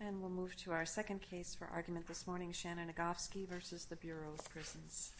And we'll move to our second case for argument this morning, Shannon Agofsky v. Bureau of Prisons.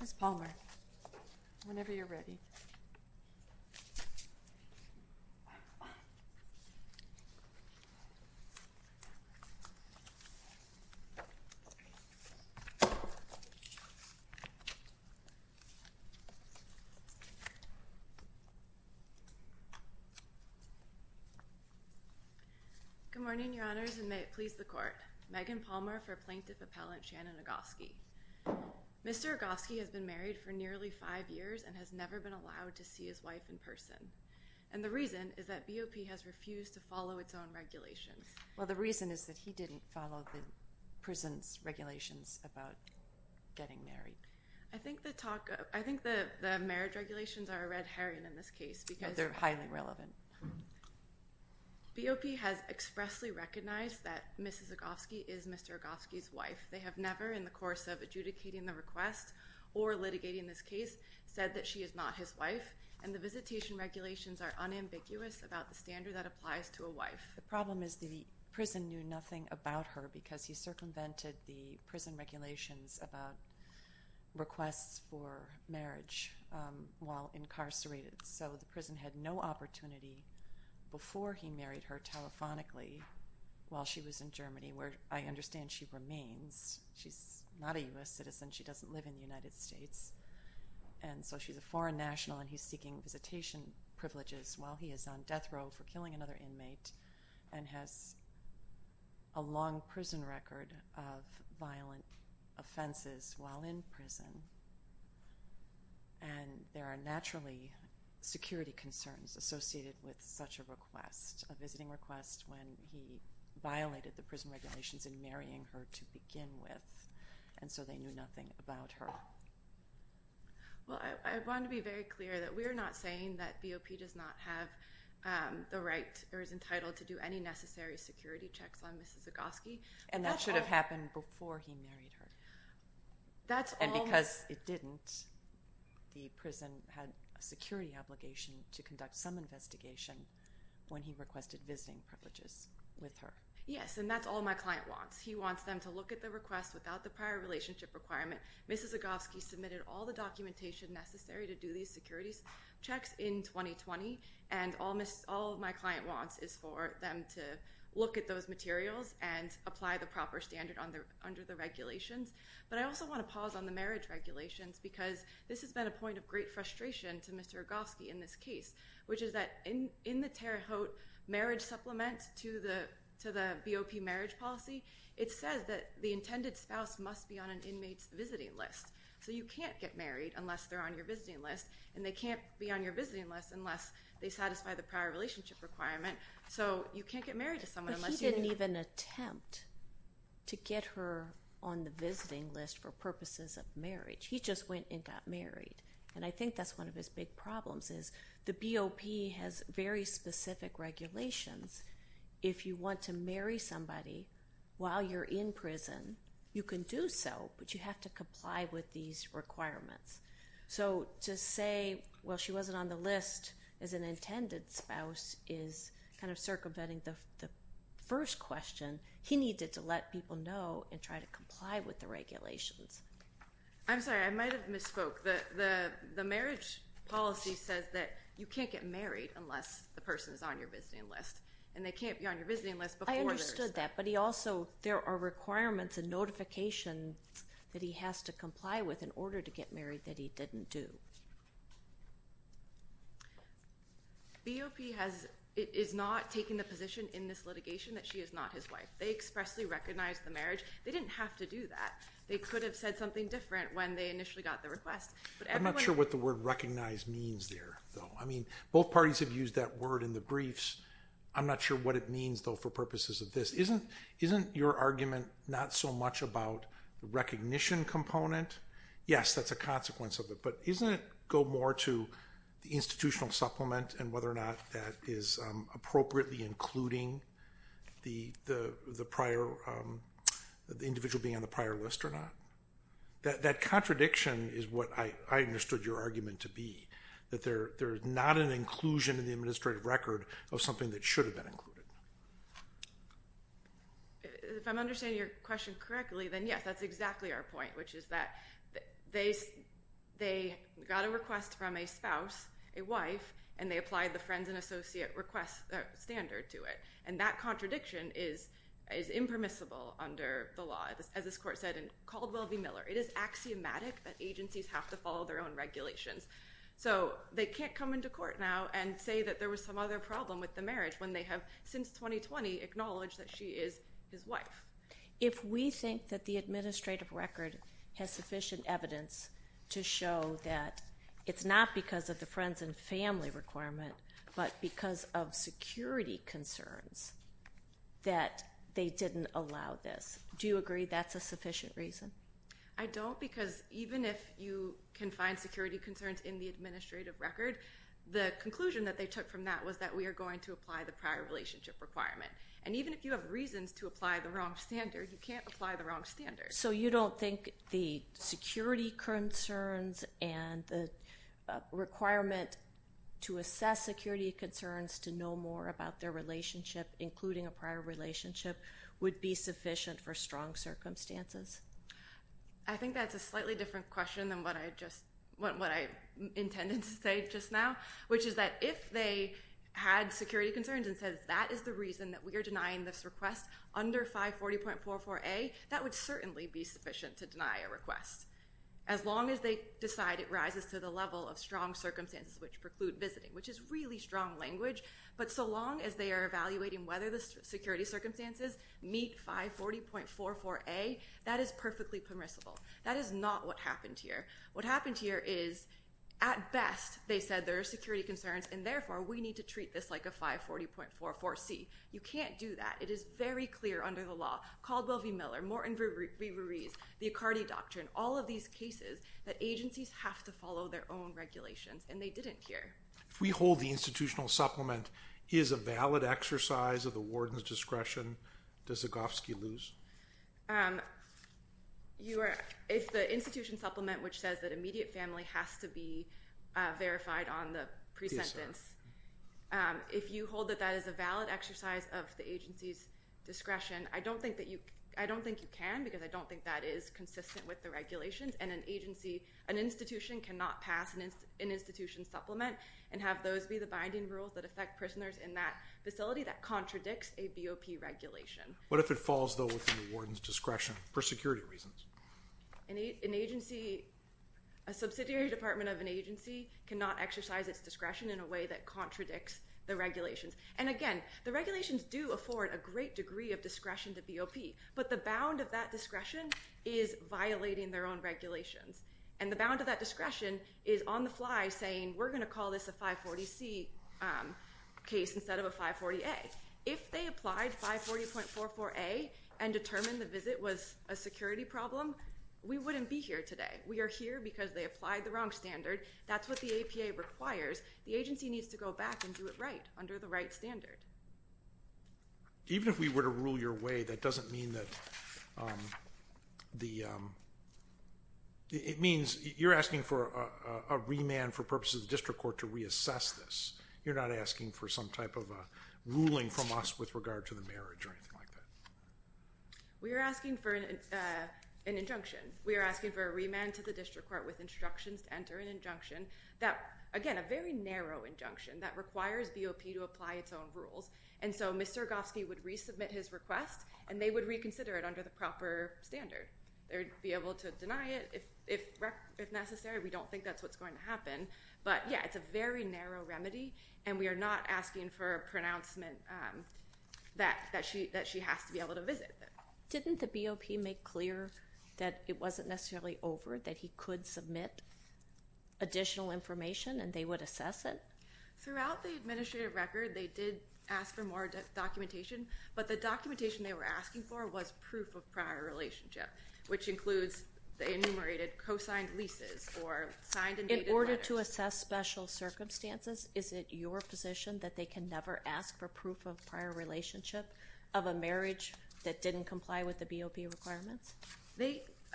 Ms. Palmer, whenever you're ready. Good morning, Your Honors, and may it please the Court. Megan Palmer for Plaintiff Appellant Shannon Agofsky. Mr. Agofsky has been married for nearly five years and has never been allowed to see his wife in person. And the reason is that BOP has refused to follow its own regulations. Well, the reason is that he didn't follow the prison's regulations about getting married. I think the marriage regulations are a red herring in this case. They're highly relevant. BOP has expressly recognized that Mrs. Agofsky is Mr. Agofsky's wife. They have never, in the course of adjudicating the request or litigating this case, said that she is not his wife. And the visitation regulations are unambiguous about the standard that applies to a wife. The problem is the prison knew nothing about her because he circumvented the prison regulations about requests for marriage while incarcerated. So the prison had no opportunity before he married her telephonically while she was in Germany, where I understand she remains. She's not a U.S. citizen. She doesn't live in the United States. And so she's a foreign national, and he's seeking visitation privileges while he is on death row for killing another inmate and has a long prison record of violent offenses while in prison. And there are naturally security concerns associated with such a request, a visiting request when he violated the prison regulations in marrying her to begin with, and so they knew nothing about her. Well, I want to be very clear that we are not saying that BOP does not have the right or is entitled to do any necessary security checks on Mrs. Agofsky. And that should have happened before he married her. And because it didn't, the prison had a security obligation to conduct some investigation when he requested visiting privileges with her. Yes, and that's all my client wants. He wants them to look at the request without the prior relationship requirement. Mrs. Agofsky submitted all the documentation necessary to do these security checks in 2020, and all my client wants is for them to look at those materials and apply the proper standard under the regulations. But I also want to pause on the marriage regulations because this has been a point of great frustration to Mr. Agofsky in this case, which is that in the Terre Haute marriage supplement to the BOP marriage policy, it says that the intended spouse must be on an inmate's visiting list. So you can't get married unless they're on your visiting list, and they can't be on your visiting list unless they satisfy the prior relationship requirement. So you can't get married to someone unless you – But he didn't even attempt to get her on the visiting list for purposes of marriage. He just went and got married. And I think that's one of his big problems is the BOP has very specific regulations. If you want to marry somebody while you're in prison, you can do so, but you have to comply with these requirements. So to say, well, she wasn't on the list as an intended spouse is kind of circumventing the first question. He needed to let people know and try to comply with the regulations. I'm sorry. I might have misspoke. The marriage policy says that you can't get married unless the person is on your visiting list, and they can't be on your visiting list before they're – I understood that. But he also – there are requirements and notifications that he has to comply with in order to get married that he didn't do. BOP has – is not taking the position in this litigation that she is not his wife. They expressly recognized the marriage. They didn't have to do that. They could have said something different when they initially got the request. I'm not sure what the word recognize means there, though. I mean, both parties have used that word in the briefs. I'm not sure what it means, though, for purposes of this. Isn't your argument not so much about the recognition component? Yes, that's a consequence of it. But doesn't it go more to the institutional supplement and whether or not that is appropriately including the prior – the individual being on the prior list or not? That contradiction is what I understood your argument to be, that there is not an inclusion in the administrative record of something that should have been included. If I'm understanding your question correctly, then, yes, that's exactly our point, which is that they got a request from a spouse, a wife, and they applied the friends and associate request standard to it. And that contradiction is impermissible under the law, as this court said in Caldwell v. Miller. It is axiomatic that agencies have to follow their own regulations. So they can't come into court now and say that there was some other problem with the marriage when they have since 2020 acknowledged that she is his wife. If we think that the administrative record has sufficient evidence to show that it's not because of the friends and family requirement but because of security concerns that they didn't allow this, do you agree that's a sufficient reason? I don't because even if you can find security concerns in the administrative record, the conclusion that they took from that was that we are going to apply the prior relationship requirement. And even if you have reasons to apply the wrong standard, you can't apply the wrong standard. So you don't think the security concerns and the requirement to assess security concerns to know more about their relationship, including a prior relationship, would be sufficient for strong circumstances? I think that's a slightly different question than what I intended to say just now, which is that if they had security concerns and said that is the reason that we are denying this request under 540.44A, that would certainly be sufficient to deny a request as long as they decide it rises to the level of strong circumstances which preclude visiting, which is really strong language. But so long as they are evaluating whether the security circumstances meet 540.44A, that is perfectly permissible. That is not what happened here. What happened here is at best they said there are security concerns and therefore we need to treat this like a 540.44C. You can't do that. It is very clear under the law, Caldwell v. Miller, Morton v. Ruiz, the Accardi Doctrine, all of these cases that agencies have to follow their own regulations, and they didn't here. If we hold the institutional supplement is a valid exercise of the warden's discretion, does Zagofsky lose? If the institution supplement which says that immediate family has to be verified on the presentence, if you hold that that is a valid exercise of the agency's discretion, I don't think you can because I don't think that is consistent with the regulations, and an institution cannot pass an institution supplement and have those be the binding rules that affect prisoners in that facility that contradicts a BOP regulation. What if it falls, though, within the warden's discretion for security reasons? An agency, a subsidiary department of an agency cannot exercise its discretion in a way that contradicts the regulations. And again, the regulations do afford a great degree of discretion to BOP, but the bound of that discretion is violating their own regulations, and the bound of that discretion is on the fly saying we're going to call this a 540C case instead of a 540A. If they applied 540.44A and determined the visit was a security problem, we wouldn't be here today. We are here because they applied the wrong standard. That's what the APA requires. The agency needs to go back and do it right under the right standard. Even if we were to rule your way, that doesn't mean that the – it means you're asking for a remand for purposes of the district court to reassess this. You're not asking for some type of a ruling from us with regard to the marriage or anything like that. We are asking for an injunction. We are asking for a remand to the district court with instructions to enter an injunction that – again, a very narrow injunction that requires BOP to apply its own rules. And so Mr. Rogofsky would resubmit his request, and they would reconsider it under the proper standard. They would be able to deny it if necessary. We don't think that's what's going to happen. But, yeah, it's a very narrow remedy, and we are not asking for a pronouncement that she has to be able to visit. Didn't the BOP make clear that it wasn't necessarily over, that he could submit additional information and they would assess it? Throughout the administrative record, they did ask for more documentation, but the documentation they were asking for was proof of prior relationship, which includes the enumerated co-signed leases or signed and dated letters. In order to assess special circumstances, is it your position that they can never ask for proof of prior relationship of a marriage that didn't comply with the BOP requirements?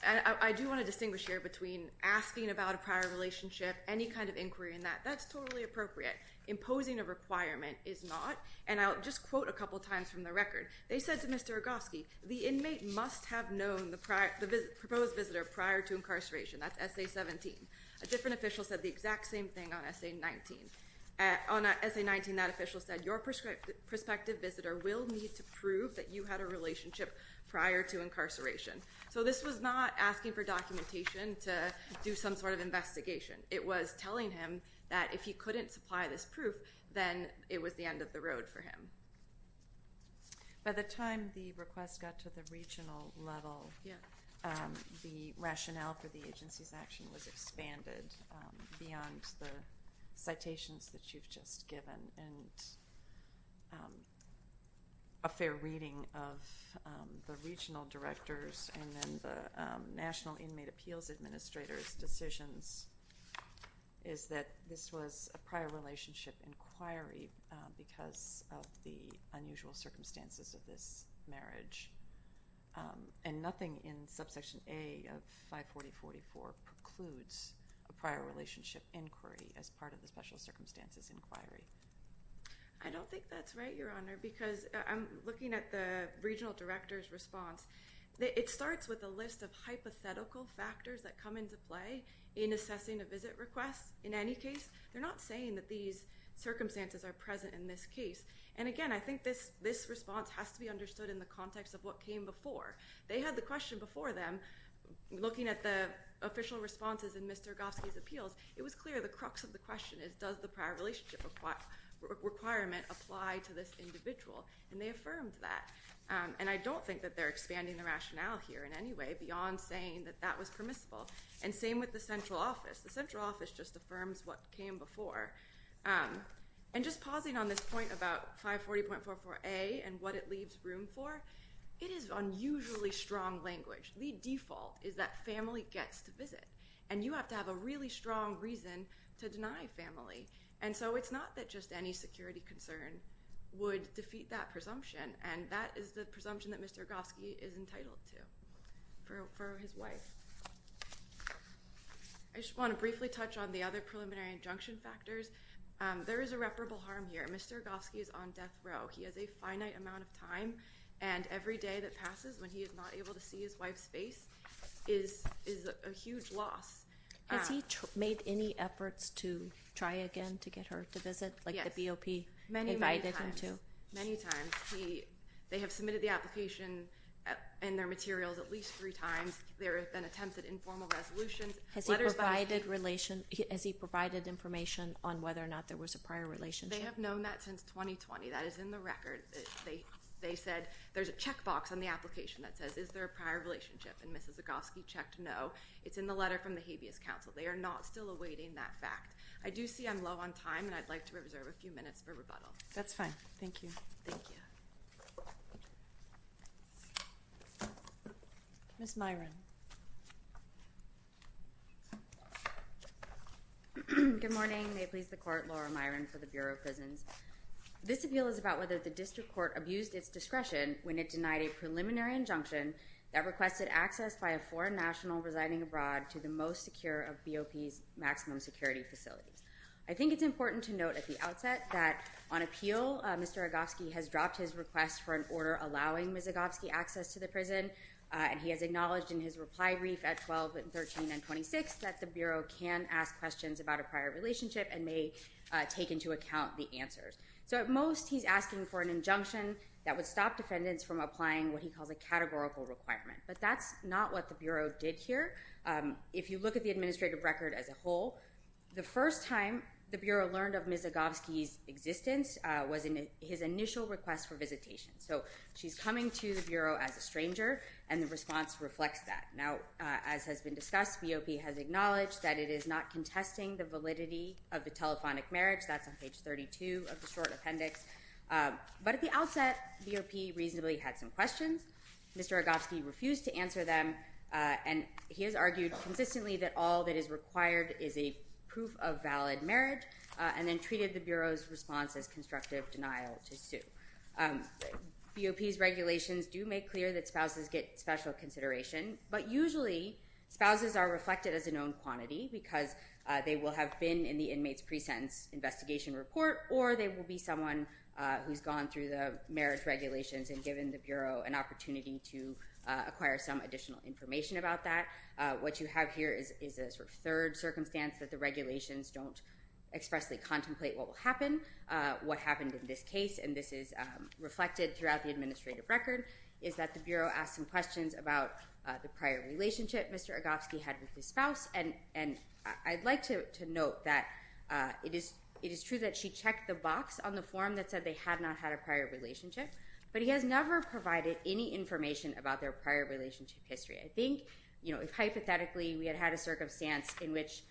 I do want to distinguish here between asking about a prior relationship, any kind of inquiry in that. That's totally appropriate. Imposing a requirement is not. And I'll just quote a couple times from the record. They said to Mr. Rogofsky, the inmate must have known the proposed visitor prior to incarceration. That's Essay 17. A different official said the exact same thing on Essay 19. On Essay 19, that official said, your prospective visitor will need to prove that you had a relationship prior to incarceration. So this was not asking for documentation to do some sort of investigation. It was telling him that if he couldn't supply this proof, then it was the end of the road for him. By the time the request got to the regional level, the rationale for the agency's action was expanded beyond the citations that you've just given. And a fair reading of the regional directors and then the National Inmate Appeals Administrators' decisions is that this was a prior relationship inquiry because of the unusual circumstances of this marriage. And nothing in Subsection A of 540.44 precludes a prior relationship inquiry as part of the special circumstances inquiry. I don't think that's right, Your Honor, because I'm looking at the regional director's response. It starts with a list of hypothetical factors that come into play in assessing a visit request. In any case, they're not saying that these circumstances are present in this case. And again, I think this response has to be understood in the context of what came before. They had the question before them. Looking at the official responses in Ms. Turgofsky's appeals, it was clear the crux of the question is, does the prior relationship requirement apply to this individual? And they affirmed that. And I don't think that they're expanding the rationale here in any way beyond saying that that was permissible. And same with the central office. The central office just affirms what came before. And just pausing on this point about 540.44A and what it leaves room for, it is unusually strong language. The default is that family gets to visit, and you have to have a really strong reason to deny family. And so it's not that just any security concern would defeat that presumption, and that is the presumption that Mr. Turgofsky is entitled to for his wife. I just want to briefly touch on the other preliminary injunction factors. There is irreparable harm here. Mr. Turgofsky is on death row. He has a finite amount of time, and every day that passes when he is not able to see his wife's face is a huge loss. Has he made any efforts to try again to get her to visit, like the BOP invited him to? Yes, many, many times. Many times. They have submitted the application and their materials at least three times. There have been attempts at informal resolutions. Has he provided information on whether or not there was a prior relationship? They have known that since 2020. That is in the record. They said there's a checkbox on the application that says, is there a prior relationship? And Mrs. Zagofsky checked no. It's in the letter from the Habeas Council. They are not still awaiting that fact. I do see I'm low on time, and I'd like to reserve a few minutes for rebuttal. That's fine. Thank you. Thank you. Ms. Myron. Good morning. May it please the Court, Laura Myron for the Bureau of Prisons. This appeal is about whether the district court abused its discretion when it denied a preliminary injunction that requested access by a foreign national residing abroad to the most secure of BOP's maximum security facilities. I think it's important to note at the outset that on appeal, Mr. Agofsky has dropped his request for an order allowing Ms. Agofsky access to the prison, and he has acknowledged in his reply brief at 12 and 13 and 26 that the Bureau can ask questions about a prior relationship and may take into account the answers. So at most, he's asking for an injunction that would stop defendants from applying what he calls a categorical requirement. But that's not what the Bureau did here. If you look at the administrative record as a whole, the first time the Bureau learned of Ms. Agofsky's existence was in his initial request for visitation. So she's coming to the Bureau as a stranger, and the response reflects that. Now, as has been discussed, BOP has acknowledged that it is not contesting the validity of the telephonic marriage. That's on page 32 of the short appendix. But at the outset, BOP reasonably had some questions. Mr. Agofsky refused to answer them, and he has argued consistently that all that is required is a proof of valid marriage and then treated the Bureau's response as constructive denial to sue. BOP's regulations do make clear that spouses get special consideration, but usually spouses are reflected as a known quantity because they will have been in the inmate's pre-sentence investigation report, or they will be someone who's gone through the marriage regulations and given the Bureau an opportunity to acquire some additional information about that. What you have here is a sort of third circumstance that the regulations don't expressly contemplate what will happen. What happened in this case, and this is reflected throughout the administrative record, is that the Bureau asked some questions about the prior relationship Mr. Agofsky had with his spouse. And I'd like to note that it is true that she checked the box on the form that said they had not had a prior relationship, but he has never provided any information about their prior relationship history. I think, you know, if hypothetically we had had a circumstance in which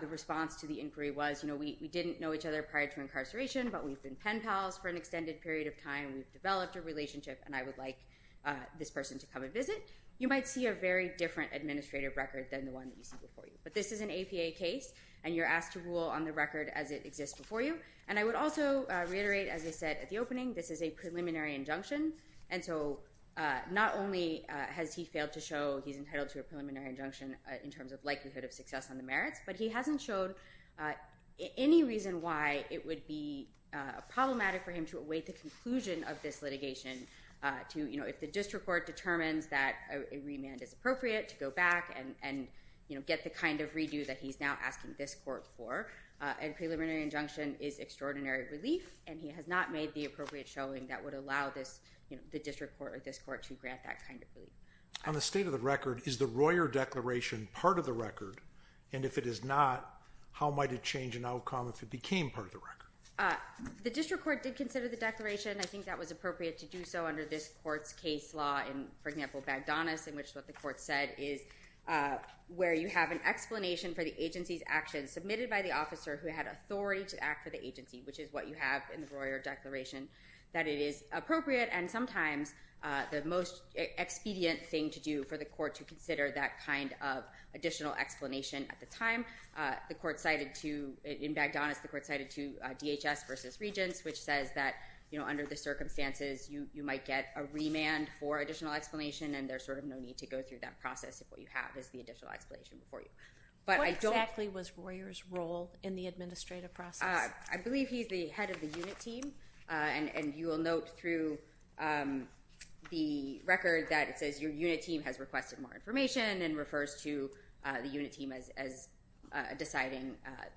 the response to the inquiry was, you know, we didn't know each other prior to incarceration, but we've been pen pals for an extended period of time, we've developed a relationship, and I would like this person to come and visit, you might see a very different administrative record than the one that you see before you. But this is an APA case, and you're asked to rule on the record as it exists before you. And I would also reiterate, as I said at the opening, this is a preliminary injunction, and so not only has he failed to show he's entitled to a preliminary injunction in terms of likelihood of success on the merits, but he hasn't shown any reason why it would be problematic for him to await the conclusion of this litigation to, you know, if the district court determines that a remand is appropriate to go back and, you know, get the kind of redo that he's now asking this court for. A preliminary injunction is extraordinary relief, and he has not made the appropriate showing that would allow this, you know, the district court or this court to grant that kind of relief. On the state of the record, is the Royer Declaration part of the record? And if it is not, how might it change an outcome if it became part of the record? The district court did consider the declaration. I think that was appropriate to do so under this court's case law in, for example, Bagdonas, in which what the court said is where you have an explanation for the agency's actions submitted by the officer who had authority to act for the agency, which is what you have in the Royer Declaration, that it is appropriate and sometimes the most expedient thing to do for the court to consider that kind of additional explanation. At the time, the court cited to – in Bagdonas, the court cited to DHS versus Regents, which says that, you know, under the circumstances, you might get a remand for additional explanation, and there's sort of no need to go through that process if what you have is the additional explanation before you. What exactly was Royer's role in the administrative process? I believe he's the head of the unit team, and you will note through the record that it says, your unit team has requested more information and refers to the unit team as deciding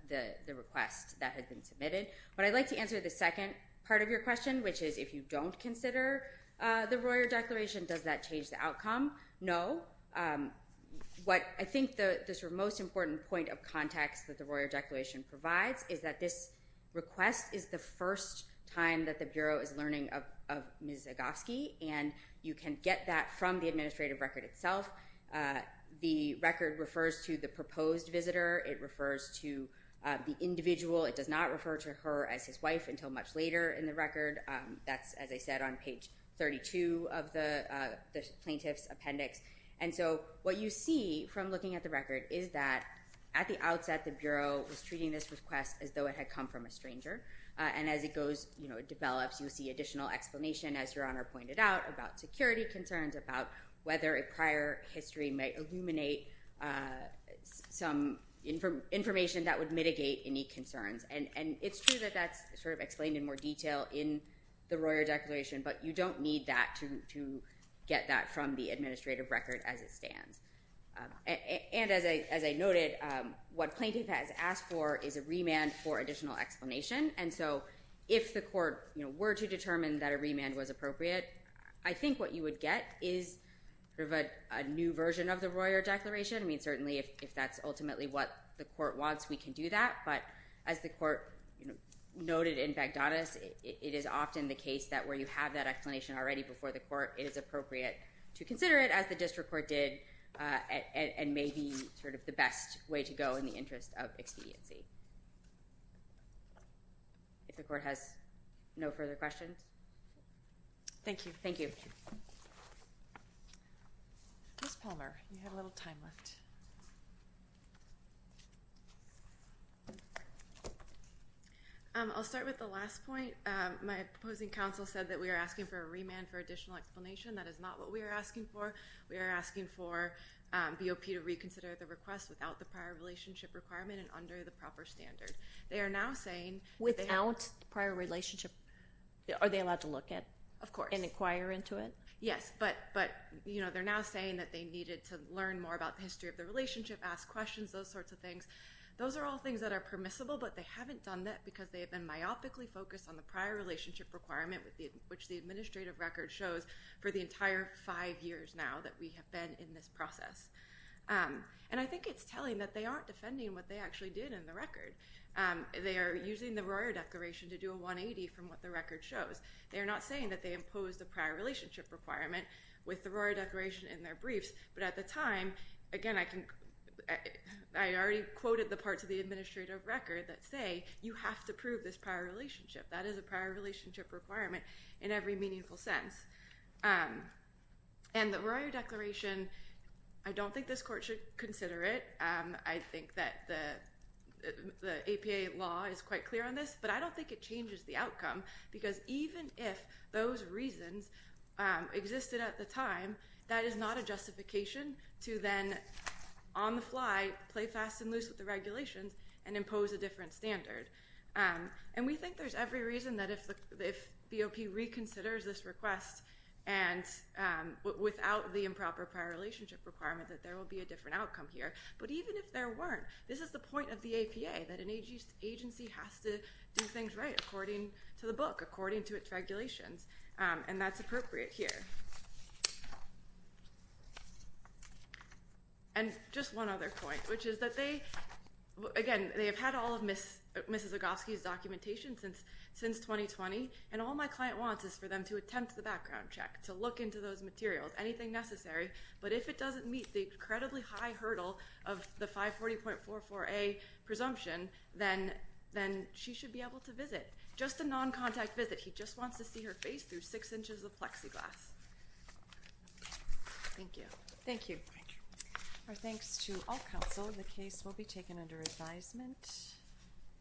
the request that had been submitted. But I'd like to answer the second part of your question, which is if you don't consider the Royer Declaration, does that change the outcome? No. What I think this most important point of context that the Royer Declaration provides is that this request is the first time that the Bureau is learning of Ms. Zagofsky, and you can get that from the administrative record itself. The record refers to the proposed visitor. It refers to the individual. It does not refer to her as his wife until much later in the record. That's, as I said, on page 32 of the plaintiff's appendix. And so what you see from looking at the record is that at the outset, the Bureau was treating this request as though it had come from a stranger, and as it develops, you see additional explanation, as Your Honor pointed out, about security concerns, about whether a prior history might illuminate some information that would mitigate any concerns. And it's true that that's sort of explained in more detail in the Royer Declaration, but you don't need that to get that from the administrative record as it stands. And as I noted, what plaintiff has asked for is a remand for additional explanation, and so if the court were to determine that a remand was appropriate, I think what you would get is sort of a new version of the Royer Declaration. I mean, certainly if that's ultimately what the court wants, we can do that, but as the court noted in Baghdadis, it is often the case that where you have that explanation already before the court, it is appropriate to consider it, as the district court did, and may be sort of the best way to go in the interest of expediency. If the court has no further questions? Thank you. Ms. Palmer, you have a little time left. I'll start with the last point. My proposing counsel said that we are asking for a remand for additional explanation. That is not what we are asking for. We are asking for BOP to reconsider the request without the prior relationship requirement and under the proper standard. They are now saying without prior relationship, are they allowed to look at and inquire into it? Yes, but they're now saying that they needed to learn more about the history of the relationship, ask questions, those sorts of things. Those are all things that are permissible, but they haven't done that because they have been myopically focused on the prior relationship requirement, which the administrative record shows, for the entire five years now that we have been in this process. And I think it's telling that they aren't defending what they actually did in the record. They are using the Royer Declaration to do a 180 from what the record shows. They are not saying that they imposed a prior relationship requirement with the Royer Declaration in their briefs, but at the time, again, I already quoted the parts of the administrative record that say, you have to prove this prior relationship. That is a prior relationship requirement in every meaningful sense. And the Royer Declaration, I don't think this court should consider it. I think that the APA law is quite clear on this, but I don't think it changes the outcome because even if those reasons existed at the time, that is not a justification to then, on the fly, play fast and loose with the regulations and impose a different standard. And we think there's every reason that if BOP reconsiders this request and without the improper prior relationship requirement that there will be a different outcome here. But even if there weren't, this is the point of the APA, that an agency has to do things right according to the book, according to its regulations, and that's appropriate here. And just one other point, which is that they, again, they have had all of Mrs. Ogofsky's documentation since 2020, and all my client wants is for them to attempt the background check, to look into those materials, anything necessary, but if it doesn't meet the incredibly high hurdle of the 540.44A presumption, then she should be able to visit, just a non-contact visit. He just wants to see her face through six inches of plexiglass. Thank you. Thank you. Thank you. Our thanks to all counsel. The case will be taken under advisement.